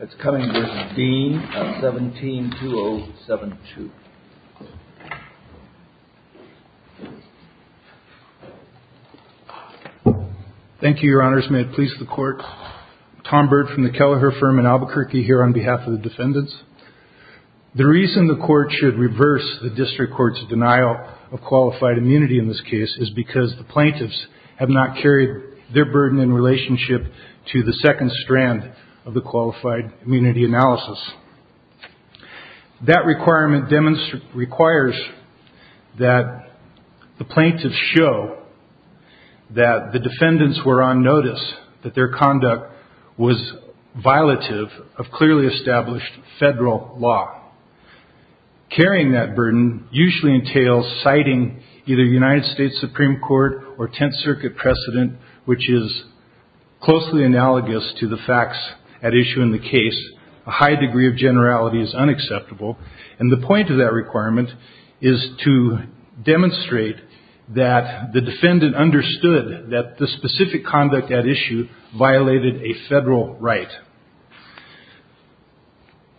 of 17-2072. Thank you, your honors. May it please the court. Tom Byrd from the Kelleher firm in Albuquerque here on behalf of the defendants. The reason the court should reverse the district court's denial of qualified immunity in this case is because the plaintiffs have not carried their burden in relationship to the second strand of the qualified immunity analysis. That requirement requires that the plaintiffs show that the defendants were on notice that their conduct was violative of clearly established federal law. Carrying that burden usually entails citing either the United States Supreme Court or Tenth Circuit precedent, which is closely analogous to the facts at issue in the case. A high degree of generality is unacceptable. And the point of that requirement is to demonstrate that the defendant understood that the specific conduct at issue violated a federal right.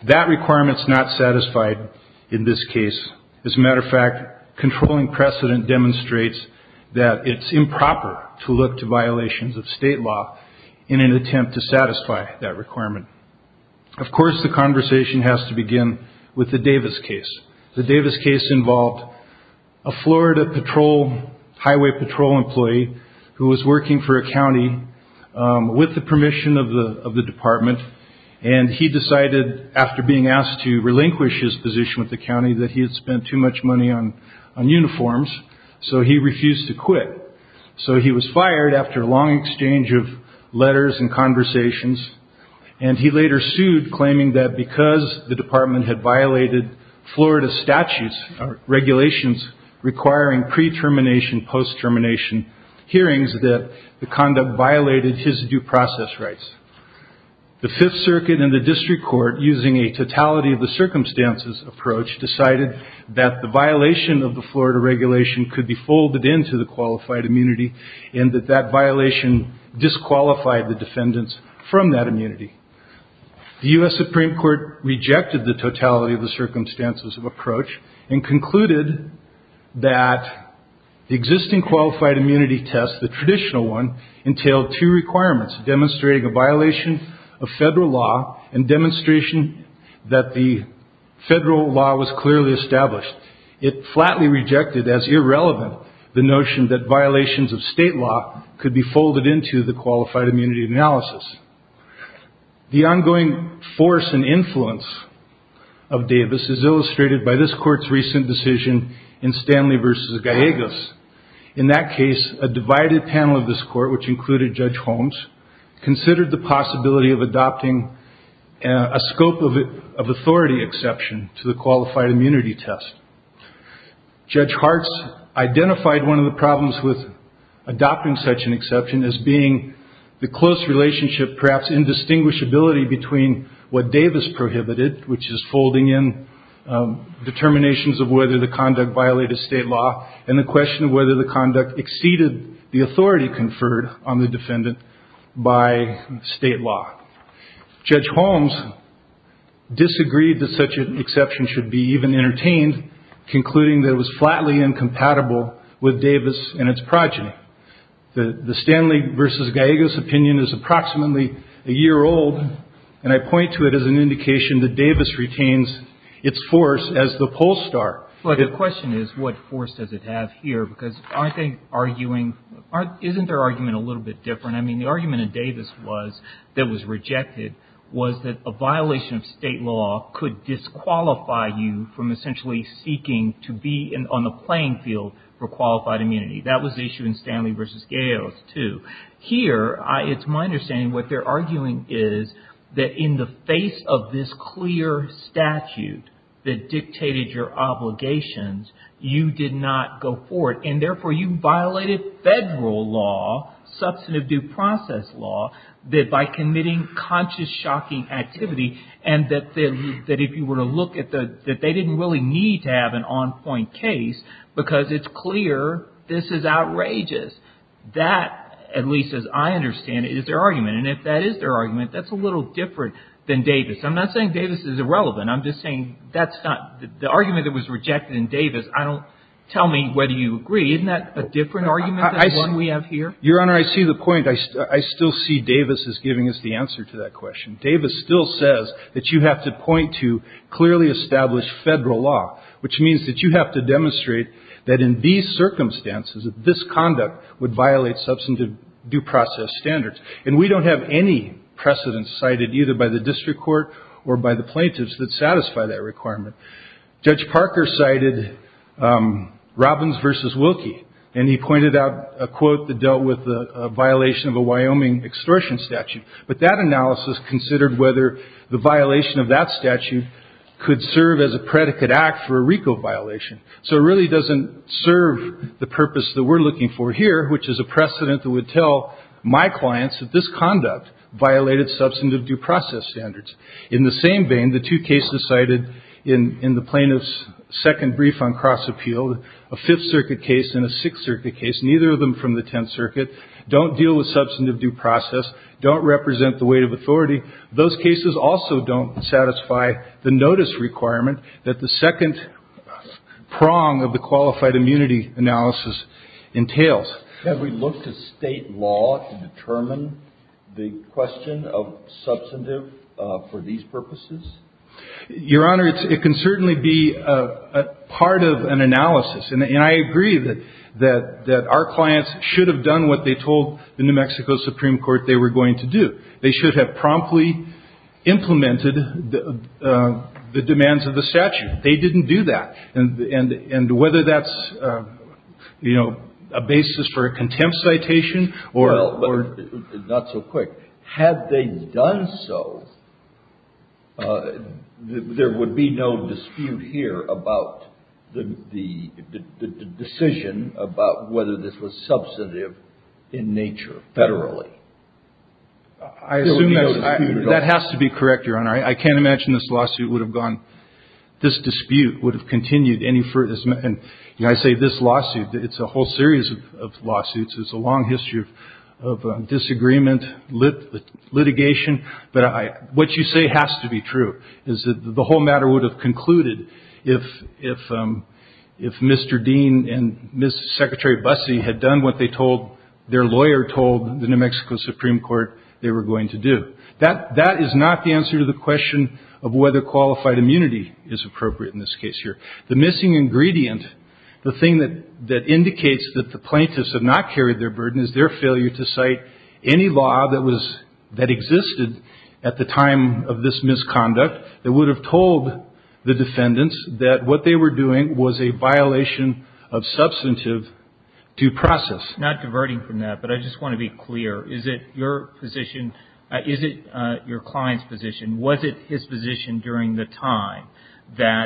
That requirement is not satisfied in this case. As a matter of fact, controlling precedent demonstrates that it's improper to look to violations of state law in an attempt to satisfy that requirement. Of course, the conversation has to begin with the Davis case. The Davis case involved a Florida Highway Patrol employee who was working for a county with the permission of the department. And he decided, after being asked to relinquish his position with the county, that he had spent too much money on uniforms. So he refused to quit. So he was fired after a long exchange of letters and conversations. And he later sued, claiming that because the department had violated Florida statutes, regulations requiring pre-termination, post-termination hearings, that the conduct violated his due process rights. The Fifth Circuit and the district court, using a totality of the circumstances approach, decided that the violation of the Florida regulation could be folded into the qualified immunity and that that violation disqualified the defendants from that immunity. The U.S. Supreme Court rejected the totality of the circumstances of approach and concluded that the existing qualified immunity test, the traditional one, entailed two requirements, demonstrating a violation of federal law and demonstration that the federal law was clearly established. It flatly rejected as irrelevant the notion that violations of state law could be folded into the qualified immunity analysis. The ongoing force and influence of Davis is illustrated by this court's recent decision in Stanley v. Gallegos. In that case, a divided panel of this court, which included Judge Holmes, considered the possibility of adopting a scope of authority exception to the qualified immunity test. Judge Hartz identified one of the problems with adopting such an exception as being the close relationship, perhaps indistinguishability, between what Davis prohibited, which is folding in determinations of whether the conduct violated state law, and the question of whether the conduct exceeded the authority conferred on the defendant by state law. Judge Holmes disagreed that such an exception should be even entertained, concluding that it was flatly incompatible with Davis and its progeny. The Stanley v. Gallegos opinion is approximately a year old, and I point to it as an indication that Davis retains its force as the poll star. But the question is, what force does it have here? Because I think arguing, isn't their argument a little bit different? I mean, the argument in Davis was, that was rejected, was that a violation of state law could disqualify you from essentially seeking to be on the playing field for qualified immunity. That was the issue in Stanley v. Gallegos, too. Here, it's my understanding, what they're arguing is, that in the face of this clear statute that dictated your obligations, you did not go forward, and therefore you violated federal law, substantive due process law, that by committing conscious shocking activity, and that if you were to look at the, that they didn't really need to have an on-point case, because it's clear this is outrageous. That, at least as I understand it, is their argument, and if that is their argument, that's a little different than Davis. I'm not saying Davis is irrelevant, I'm just saying that's not, the argument that was rejected in Davis, I don't, tell me whether you agree, isn't that a different argument than the one we have here? Your Honor, I see the point. I still see Davis as giving us the answer to that question. Davis still says that you have to point to clearly established federal law, which means that you have to demonstrate that in these circumstances, that this conduct would violate substantive due process standards. And we don't have any precedents cited either by the district court or by the plaintiffs that satisfy that requirement. Judge Parker cited Robbins v. Wilkie, and he pointed out a quote that dealt with a violation of a Wyoming extortion statute. But that analysis considered whether the violation of that statute could serve as a predicate act for a RICO violation. So it really doesn't serve the purpose that we're looking for here, which is a precedent that would tell my clients that this conduct violated substantive due process standards. In the same vein, the two cases cited in the plaintiff's second brief on cross-appeal, a Fifth Circuit case and a Sixth Circuit case, neither of them from the Tenth Circuit, don't deal with substantive due process, don't represent the weight of authority. Those cases also don't satisfy the notice requirement that the second prong of the qualified immunity analysis entails. Have we looked at State law to determine the question of substantive for these purposes? Your Honor, it can certainly be a part of an analysis. And I agree that our clients should have done what they told the New Mexico Supreme Court they were going to do. They should have promptly implemented the demands of the statute. They didn't do that. And this is for a contempt citation or not so quick. Had they done so, there would be no dispute here about the decision about whether this was substantive in nature federally. I assume that's a dispute at all. That has to be correct, Your Honor. I can't imagine this lawsuit would have gone, this dispute would have continued any further. And I say this lawsuit, it's a whole series of lawsuits. There's a long history of disagreement, litigation. But what you say has to be true, is that the whole matter would have concluded if Mr. Dean and Ms. Secretary Busse had done what they told, their lawyer told the New Mexico Supreme Court they were going to do. That is not the answer to the question of whether qualified immunity is appropriate in this case here. The missing ingredient, the thing that indicates that the plaintiffs have not carried their burden is their failure to cite any law that existed at the time of this misconduct that would have told the defendants that what they were doing was a violation of substantive due process. Not diverting from that, but I just want to be clear. Is it your position, is it your position at the time that,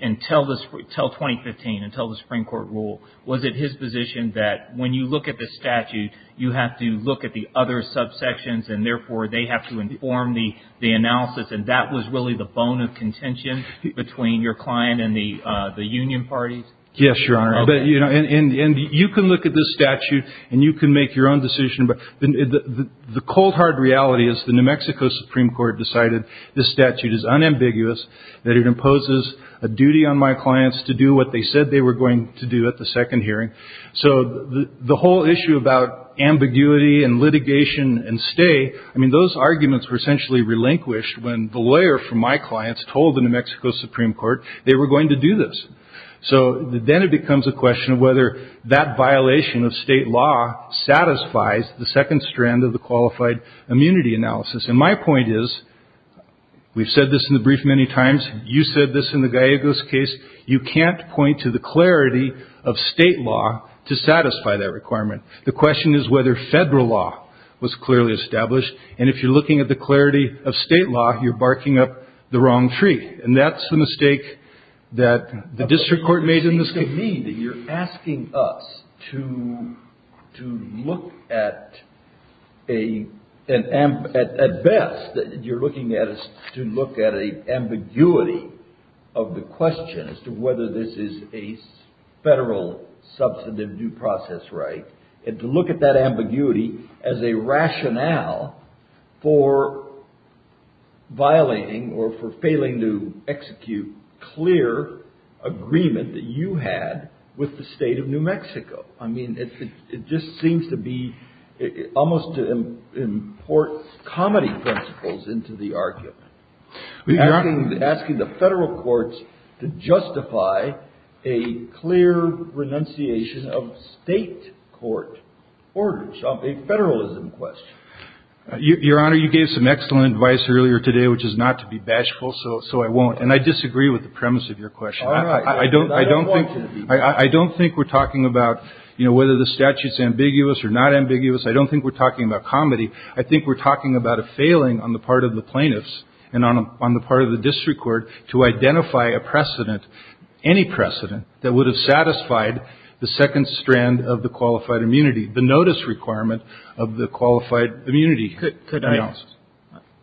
until 2015, until the Supreme Court rule, was it his position that when you look at the statute, you have to look at the other subsections and therefore they have to inform the analysis and that was really the bone of contention between your client and the union parties? Yes, Your Honor. And you can look at this statute and you can make your own decision. But the cold hard reality is the New Mexico Supreme Court decided this statute is unambiguous, that it imposes a duty on my clients to do what they said they were going to do at the second hearing. So the whole issue about ambiguity and litigation and stay, I mean, those arguments were essentially relinquished when the lawyer from my clients told the New Mexico Supreme Court they were going to do this. So then it becomes a question of whether that violation of state law satisfies the second strand of the qualified immunity analysis. And my point is, we've said this in the brief many times, you said this in the Gallegos case, you can't point to the clarity of state law to satisfy that requirement. The question is whether federal law was clearly established and if you're looking at the clarity of state law, you're barking up the wrong tree. And that's the mistake that the district court made in this case. But what you're saying to me, that you're asking us to look at a, at best, you're looking at us to look at an ambiguity of the question as to whether this is a federal substantive due process right, and to look at that ambiguity as a rationale for violating or for failing to execute clear agreement that you had with the state of New Mexico. I mean, it just seems to be almost to import comedy principles into the argument. You're asking the federal courts to justify a clear renunciation of state court orders of a federalism question. Your Honor, you gave some excellent advice earlier today, which is not to be bashful, so I won't. And I disagree with the premise of your question. I don't think we're talking about, you know, whether the statute's ambiguous or not ambiguous. I don't think we're talking about comedy. I think we're talking about a failing on the part of the plaintiffs and on the part of the district court to identify a precedent, any precedent, that would have satisfied the second strand of the qualified immunity, the notice requirement of the qualified immunity. Could I ask?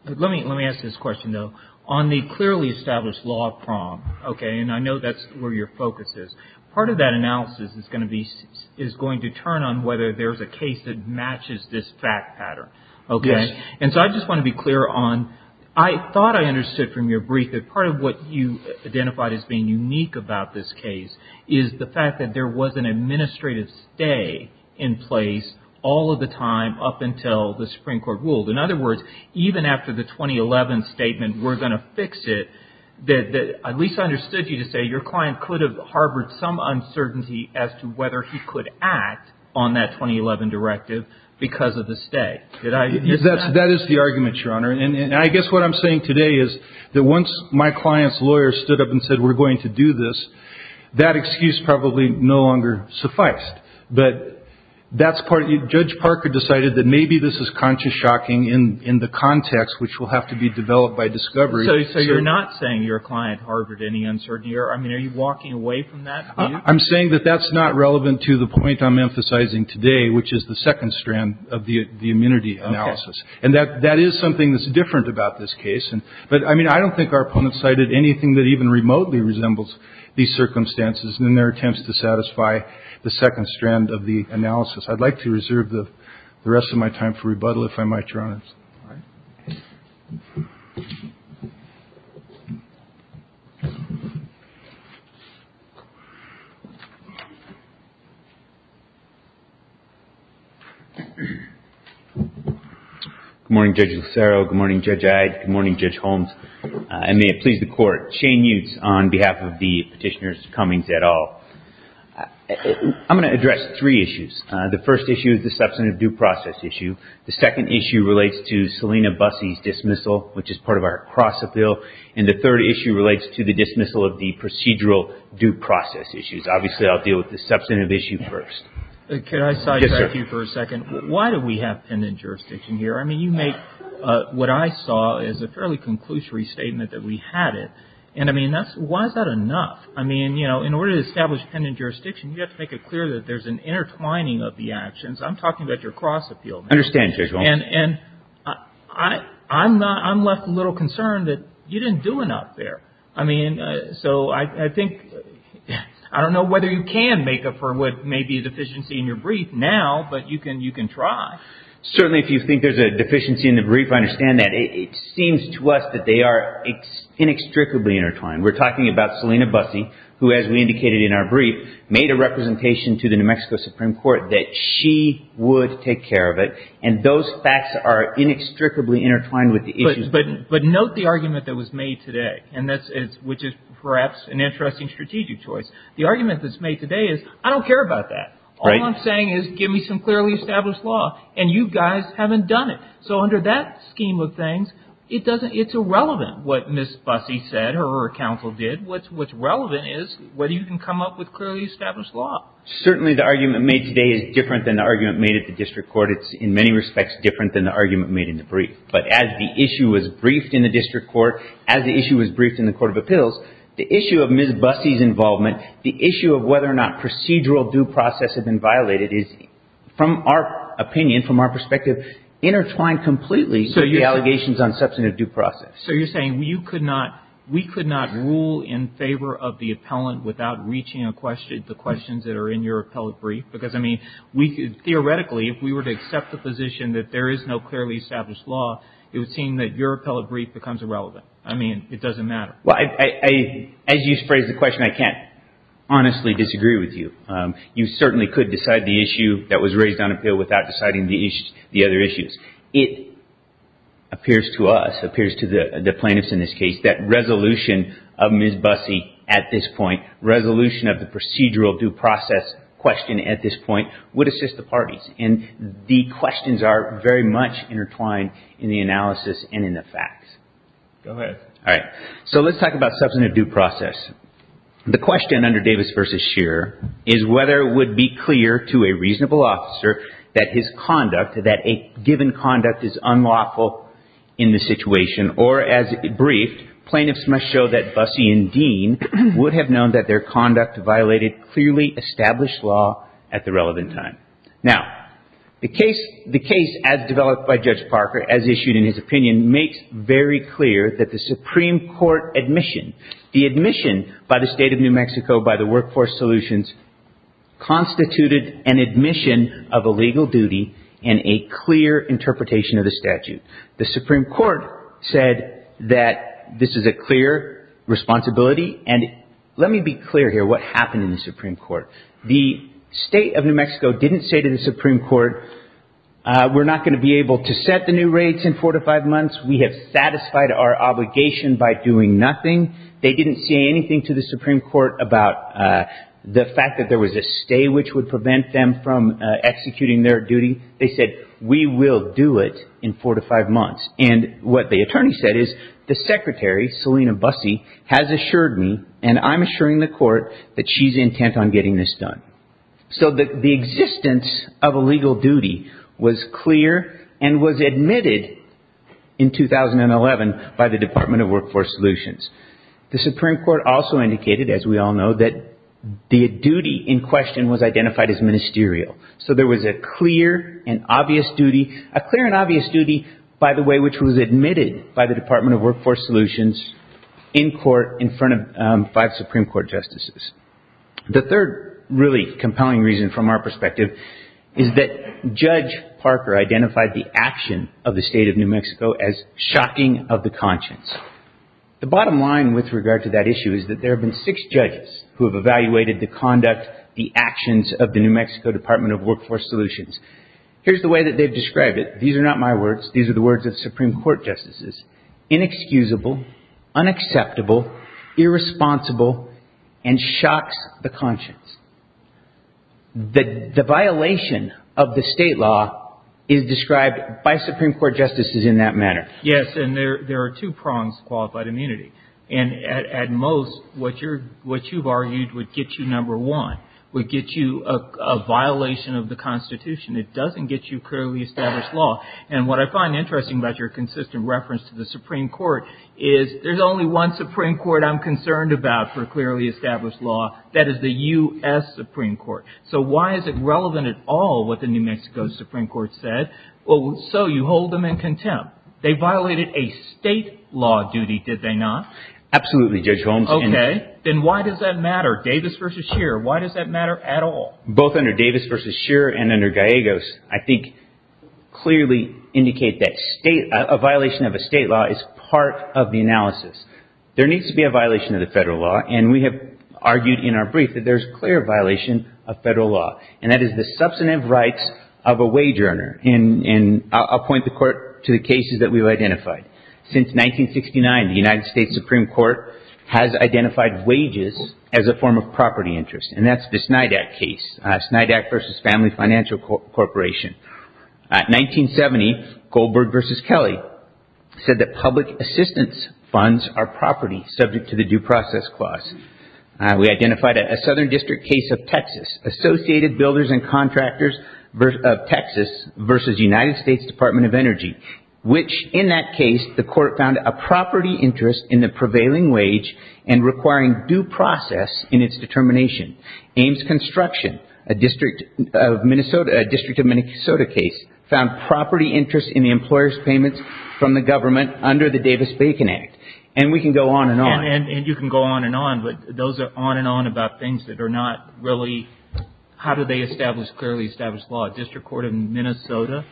Let me ask this question, though. On the clearly established law of PROM, okay, and I know that's where your focus is, part of that analysis is going to be, is going to turn on whether there's a case that matches this fact pattern, okay? Yes. And so I just want to be clear on, I thought I understood from your brief that part of what you identified as being unique about this case is the fact that there was an administrative stay in place all of the time up until the Supreme Court ruled. In other words, even after the 2011 statement, we're going to fix it, that at least I understood you to say your client could have harbored some uncertainty as to whether he could act on that 2011 directive because of the stay. Did I miss that? That is the argument, Your Honor. And I guess what I'm saying today is that once my client's said we're going to do this, that excuse probably no longer sufficed. But that's part of it. Judge Parker decided that maybe this is conscious shocking in the context which will have to be developed by discovery. So you're not saying your client harbored any uncertainty? I mean, are you walking away from that view? I'm saying that that's not relevant to the point I'm emphasizing today, which is the second strand of the immunity analysis. And that is something that's different about this case. But I mean, I don't think our opponent cited anything that even remotely resembles these circumstances in their attempts to satisfy the second strand of the analysis. I'd like to reserve the rest of my time for rebuttal, if I might, Your Honor. Good morning, Judge Lucero. Good morning, Judge Iyde. Good morning, Judge Holmes. And may it please the Court. Shane Utes on behalf of the Petitioner's Cummings et al. I'm going to address three issues. The first issue is the substantive due process issue. The second issue relates to Selina Bussey's dismissal, which is part of our cross-appeal. And the third issue relates to the dismissal of the procedural due process issues. Obviously, I'll deal with the substantive issue first. Can I sidetrack you for a second? Yes, sir. Why do we have pendant jurisdiction here? I mean, you make what I saw as a fairly conclusory statement that we had it. And, I mean, why is that enough? I mean, you know, in order to establish pendant jurisdiction, you have to make it clear that there's an intertwining of the actions. I'm talking about your cross-appeal. I understand, Judge Holmes. And I'm left a little concerned that you didn't do enough there. I mean, so I think, I don't know whether you can make up for what may be a deficiency in your brief now, but you can try. Certainly, if you think there's a deficiency in the brief, I understand that. It seems to us that they are inextricably intertwined. We're talking about Selina Bussey, who, as we indicated in our brief, made a representation to the New Mexico Supreme Court that she would take care of it. And those facts are inextricably intertwined with the issues. But note the argument that was made today, and that's, which is perhaps an interesting strategic choice. The argument that's made today is, I don't care about that. All I'm saying is, give me some clearly established law. And you guys haven't done it. So under that scheme of things, it doesn't, it's irrelevant what Ms. Bussey said or her counsel did. What's relevant is whether you can come up with clearly established law. Certainly, the argument made today is different than the argument made at the district court. It's, in many respects, different than the argument made in the brief. But as the issue was briefed in the district court, as the issue was briefed in the court of appeals, the issue of Ms. Bussey's involvement, the issue of whether or not procedural due process had been violated is, from our opinion, from our perspective, intertwined completely with the allegations on substantive due process. So you're saying you could not, we could not rule in favor of the appellant without reaching a question, the questions that are in your appellate brief? Because, I mean, we could theoretically, if we were to accept the position that there is no clearly established law, it would seem that your appellate brief becomes irrelevant. I mean, it doesn't matter. Well, as you phrased the question, I can't honestly disagree with you. You certainly could decide the issue that was raised on appeal without deciding the other issues. It appears to us, appears to the plaintiffs in this case, that resolution of Ms. Bussey at this point, resolution of the procedural due process question at this point, would assist the parties. And the questions are very much intertwined in the analysis and in the facts. Go ahead. All right. So let's talk about substantive due process. The question under Davis versus Scheer is whether it would be clear to a reasonable officer that his conduct, that a given conduct, is unlawful in the situation. Or as briefed, plaintiffs must show that Bussey and Dean would have known that their conduct violated clearly established law at the relevant time. Now, the case, the case as developed by Judge Parker, as issued in his opinion, makes very clear that the Supreme Court admission. The admission by the state of New Mexico, by the Workforce Solutions, constituted an admission of a legal duty and a clear interpretation of the statute. The Supreme Court said that this is a clear responsibility. And let me be clear here, what happened in the Supreme Court. The state of New Mexico didn't say to the Supreme Court, we're not going to be able to set the new rates in four to five months. We have satisfied our obligation by doing nothing. They didn't say anything to the Supreme Court about the fact that there was a stay which would prevent them from executing their duty. They said, we will do it in four to five months. And what the attorney said is, the secretary, Selina Bussey, has assured me, and I'm assuring the court, that she's intent on getting this done. So the existence of a legal duty was clear and was admitted in 2011 by the Department of Workforce Solutions. The Supreme Court also indicated, as we all know, that the duty in question was identified as ministerial. So there was a clear and obvious duty, a clear and obvious duty, by the way, which was admitted by the Department of Workforce Solutions in court in front of five Supreme Court justices. The third really compelling reason from our perspective is that Judge Parker identified the action of the state of New Mexico as shocking of the conscience. The bottom line with regard to that issue is that there have been six judges who have evaluated the conduct, the actions of the New Mexico Department of Workforce Solutions. Here's the way that they've described it. These are not my words. These are the words of Supreme Court justices. Inexcusable, unacceptable, irresponsible and shocks the conscience. The violation of the state law is described by Supreme Court justices in that manner. Yes. And there are two prongs to qualified immunity. And at most, what you've argued would get you number one, would get you a violation of the Constitution. It doesn't get you clearly established law. And what I find interesting about your consistent reference to the Supreme Court is there's only one Supreme Court I'm concerned about for clearly established law. That is the U.S. Supreme Court. So why is it relevant at all what the New Mexico Supreme Court said? Well, so you hold them in contempt. They violated a state law duty, did they not? Absolutely, Judge Holmes. OK, then why does that matter? Davis versus Scheer. Why does that matter at all? Both under Davis versus Scheer and under Gallegos, I think clearly indicate that a violation of a state law is part of the analysis. There needs to be a violation of the federal law. And we have argued in our brief that there's clear violation of federal law. And that is the substantive rights of a wage earner. And I'll point the court to the cases that we've identified. Since 1969, the United States Supreme Court has identified wages as a form of property interest. And that's the Snydack case, Snydack versus Family Financial Corporation. 1970, Goldberg versus Kelly said that public assistance funds are property subject to the due process clause. We identified a Southern District case of Texas. Associated Builders and Contractors of Texas versus United States Department of Energy, which in that case, the court found a property interest in the prevailing wage and requiring due process in its determination. Ames Construction, a district of Minnesota, a district of Minnesota case, found property interest in the employer's payments from the government under the Davis-Bacon Act. And we can go on and on. And you can go on and on. But those are on and on about things that are not really, how do they establish clearly established law? A district court in Minnesota,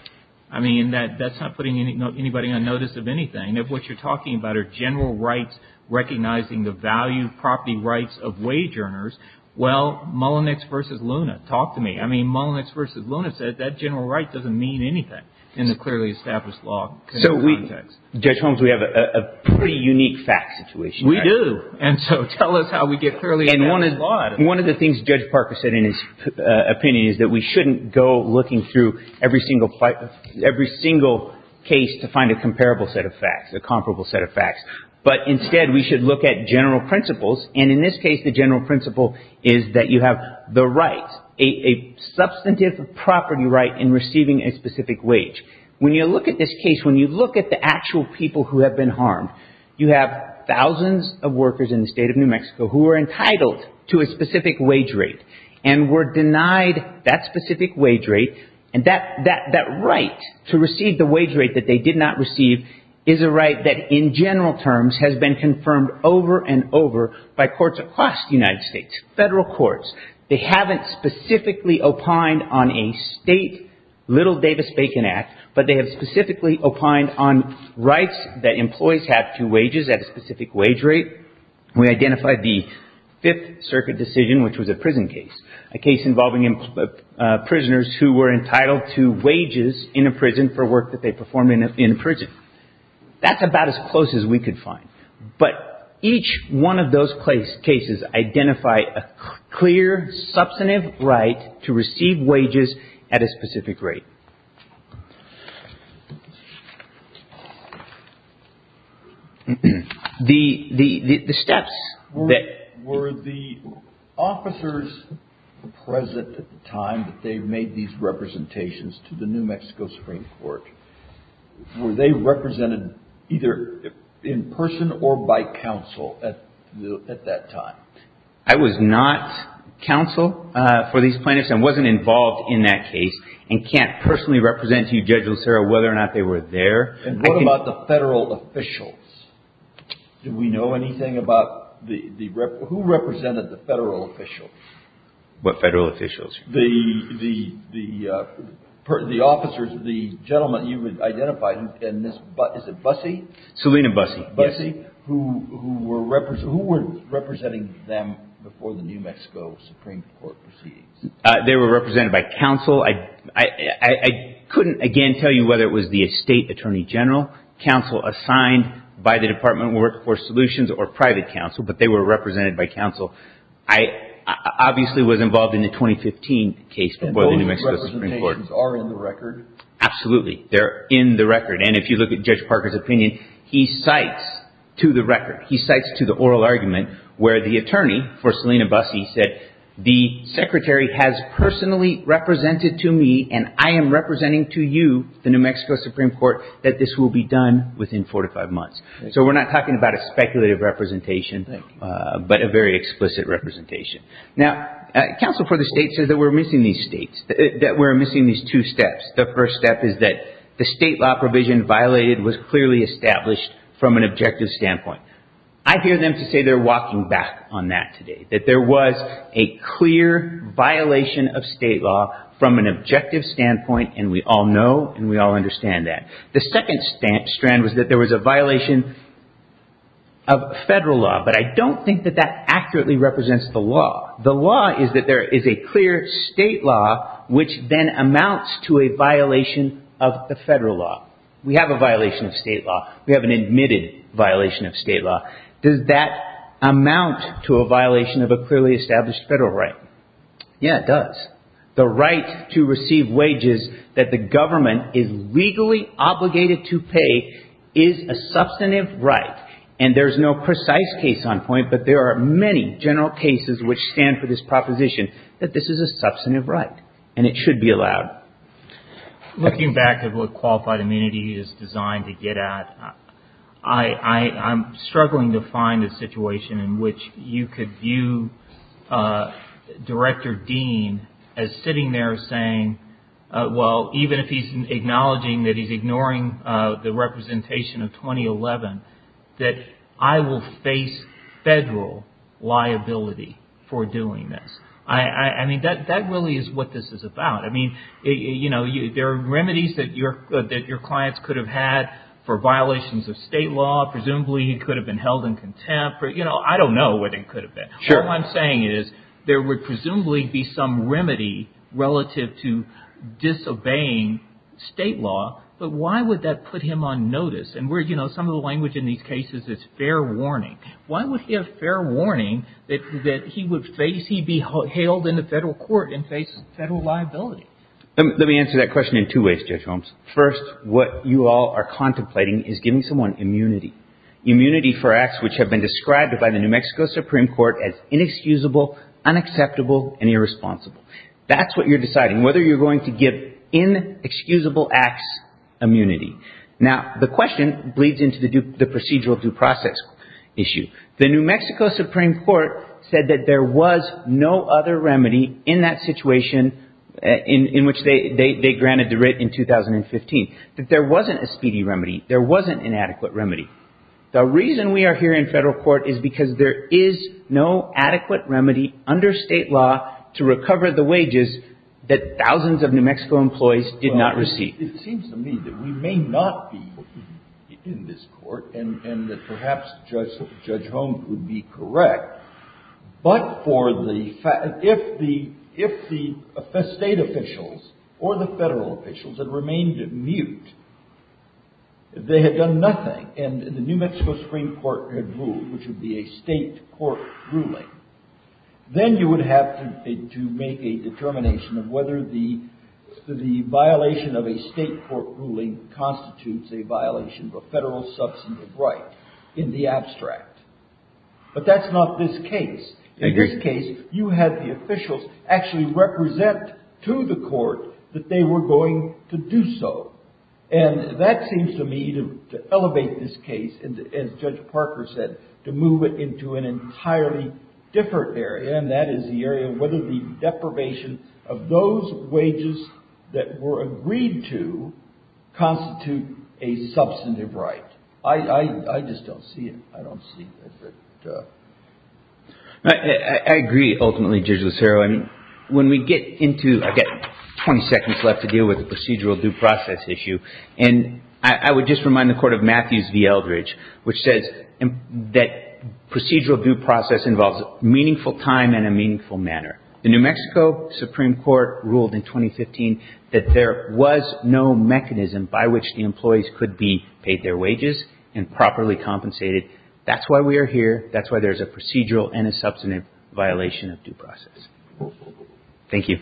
I mean, that's not putting anybody on notice of anything. If what you're talking about are general rights, recognizing the value of property rights of wage earners, well, Mullenix versus Luna, talk to me. I mean, Mullenix versus Luna said that general right doesn't mean anything in the clearly established law context. Judge Holmes, we have a pretty unique fact situation. We do. And so tell us. How we get clearly in one is one of the things Judge Parker said in his opinion is that we shouldn't go looking through every single fight, every single case to find a comparable set of facts, a comparable set of facts. But instead, we should look at general principles. And in this case, the general principle is that you have the right, a substantive property right in receiving a specific wage. When you look at this case, when you look at the actual people who have been harmed, you have thousands of workers in the state of New Mexico who are entitled to a specific wage rate and were denied that specific wage rate. And that that that right to receive the wage rate that they did not receive is a right that in general terms has been confirmed over and over by courts across the United States, federal courts. They haven't specifically opined on a state little Davis-Bacon Act, but they have specifically opined on rights that employees have to wages at a specific wage rate. We identified the Fifth Circuit decision, which was a prison case, a case involving prisoners who were entitled to wages in a prison for work that they performed in prison. That's about as close as we could find. But each one of those cases identify a clear, substantive right to receive wages at a specific rate. The steps that were the officers present at the time that they made these representations to the New Mexico Supreme Court, were they represented either in person or by counsel at that time? I was not counsel for these plaintiffs and wasn't involved in that case and can't personally represent you, Judge Lucero, whether or not they were there. And what about the federal officials? Do we know anything about the, who represented the federal officials? What federal officials? The, the, the, the officers, the gentleman you identified in this, is it Busse? Selena Busse. Busse, who were representing them before the New Mexico Supreme Court proceedings? They were represented by counsel. I, I, I couldn't, again, tell you whether it was the State Attorney General, counsel assigned by the Department of Workforce Solutions, or private counsel, but they were represented by counsel. I obviously was involved in the 2015 case before the New Mexico Supreme Court. And those representations are in the record? Absolutely. They're in the record. And if you look at Judge Parker's opinion, he cites to the record, he cites to the oral argument where the attorney for Selena Busse said, the Secretary has personally represented to me, and I am representing to you, the New Mexico Supreme Court, that this will be done within four to five months. So we're not talking about a speculative representation, but a very explicit representation. Now, counsel for the state says that we're missing these states, that we're missing these two steps. The first step is that the state law provision violated was clearly established from an objective standpoint. I hear them to say they're walking back on that today, that there was a clear violation of state law from an objective standpoint, and we all know and we all understand that. The second stamp strand was that there was a violation of federal law, but I don't think that that accurately represents the law. The law is that there is a clear state law, which then amounts to a violation of the federal law. We have a violation of state law. We have an admitted violation of state law. Does that amount to a violation of a clearly established federal right? Yeah, it does. The right to receive wages that the government is legally obligated to pay is a substantive right, and there's no precise case on point, but there are many general cases which stand for this proposition that this is a substantive right, and it should be allowed. Looking back at what Qualified Immunity is designed to get at, I'm struggling to find a situation in which you could view Director Dean as sitting there saying, well, even if he's acknowledging that he's ignoring the representation of 2011, that I will face federal liability for doing this. I mean, that really is what this is about. I mean, there are remedies that your clients could have had for violations of state law. Presumably, he could have been held in contempt, but I don't know what it could have been. Sure. What I'm saying is there would presumably be some remedy relative to disobeying state law, but why would that put him on notice? And some of the language in these cases is fair warning. Why would he have fair warning that he would be held in the federal court and face federal liability? Let me answer that question in two ways, Judge Holmes. First, what you all are contemplating is giving someone immunity. Immunity for acts which have been described by the New Mexico Supreme Court as inexcusable, unacceptable, and irresponsible. That's what you're deciding, whether you're going to give inexcusable acts immunity. Now, the question bleeds into the procedural due process. The New Mexico Supreme Court said that there was no other remedy in that situation in which they granted the writ in 2015, that there wasn't a speedy remedy. There wasn't an adequate remedy. The reason we are here in federal court is because there is no adequate remedy under state law to recover the wages that thousands of New Mexico employees did not receive. It seems to me that we may not be in this court and that perhaps Judge Holmes would be correct, but for the fact that if the state officials or the federal officials had remained mute, they had done nothing and the New Mexico Supreme Court had ruled, which would be a state court ruling, then you would have to make a determination of whether the violation of a state court ruling constitutes a violation of a federal substantive right in the abstract. But that's not this case. In this case, you had the officials actually represent to the court that they were going to do so. And that seems to me to elevate this case, as Judge Parker said, to move it into an entirely different area, and that is the area of whether the deprivation of those wages that were agreed to constitute a substantive right. I just don't see it. I don't see it. I agree, ultimately, Judge Lucero, and when we get into, I've got 20 seconds left to deal with the procedural due process issue, and I would just remind the Court of Matthews v. Eldridge, which says that procedural due process involves meaningful time and a meaningful manner. The New Mexico Supreme Court ruled in 2015 that there was no mechanism by which the employees could be paid their wages and properly compensated. That's why we are here. That's why there's a procedural and a substantive violation of due process. Thank you.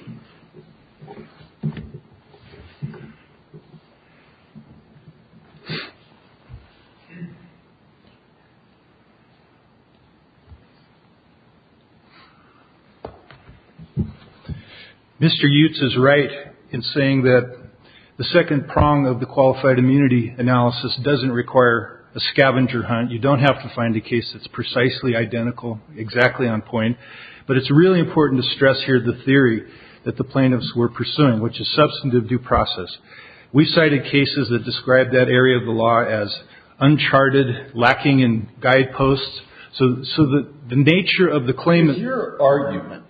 Mr. Yutes is right in saying that the second prong of the qualified immunity analysis doesn't require a scavenger hunt. You don't have to find a case that's precisely identical, exactly on point, but it's really important to stress here the theory that the plaintiffs were pursuing, which is substantive due process. We cited cases that described that area of the law as uncharted, lacking in guideposts. So the nature of the claimant's argument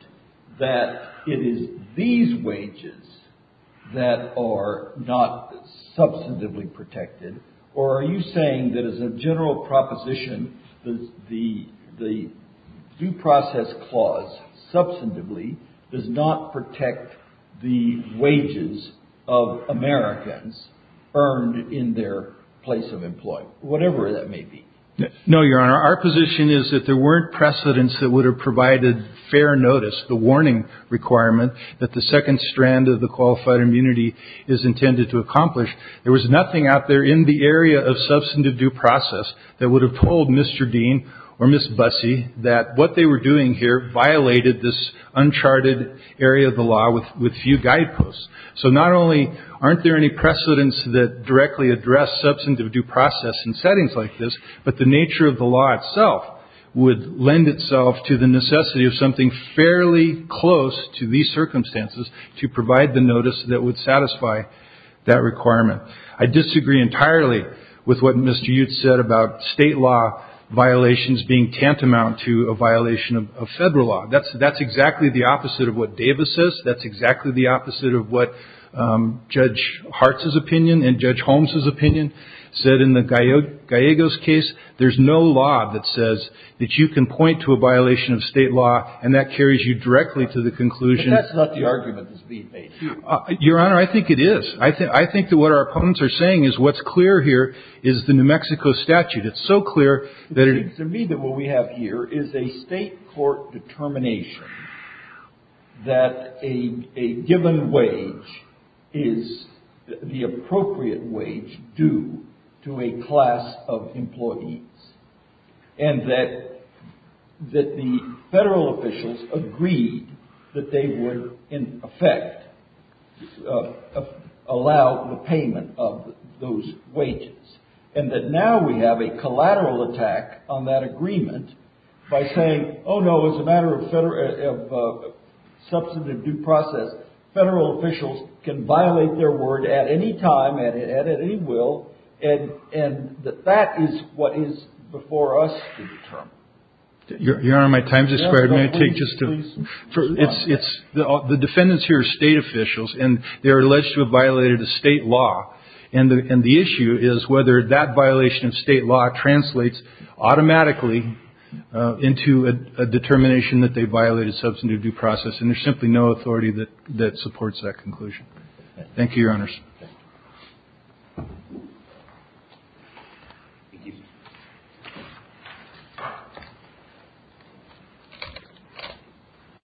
that it is these wages that are not substantively protected, or are you saying that as a general proposition, the due process clause substantively does not protect the wages of Americans earned in their place of employment, whatever that may be? No, Your Honor. Our position is that there weren't precedents that would have provided fair notice, the warning requirement that the second strand of the qualified immunity is intended to accomplish. There was nothing out there in the area of substantive due process that would have told Mr. Dean or Miss Bussey that what they were doing here violated this uncharted area of the law with few guideposts. So not only aren't there any precedents that directly address substantive due process in settings like this, but the nature of the law itself would lend itself to the necessity of something fairly close to these circumstances to provide the notice that would satisfy that requirement. I disagree entirely with what Mr. Yates said about state law violations being tantamount to a violation of federal law. That's that's exactly the opposite of what Davis says. That's exactly the opposite of what Judge Hartz's opinion and Judge Holmes's opinion said in the Gallegos case. There's no law that says that you can point to a violation of state law and that carries you directly to the conclusion. That's not the argument that's being made. Your Honor, I think it is. I think I think that what our opponents are saying is what's clear here is the New Mexico statute. It's so clear that it is. To me, what we have here is a state court determination that a given wage is the appropriate wage due to a class of employees and that that the federal officials agreed that they would in effect allow the payment of those wages. And that now we have a collateral attack on that agreement by saying, oh, no, as a matter of substantive due process, federal officials can violate their word at any time and at any will. And that that is what is before us to determine. Your Honor, my time's expired. May I take just a moment? It's the defendants here are state officials and they're alleged to have violated the state law. And the issue is whether that violation of state law translates automatically into a determination that they violated substantive due process. And there's simply no authority that that supports that conclusion. Thank you, Your Honors.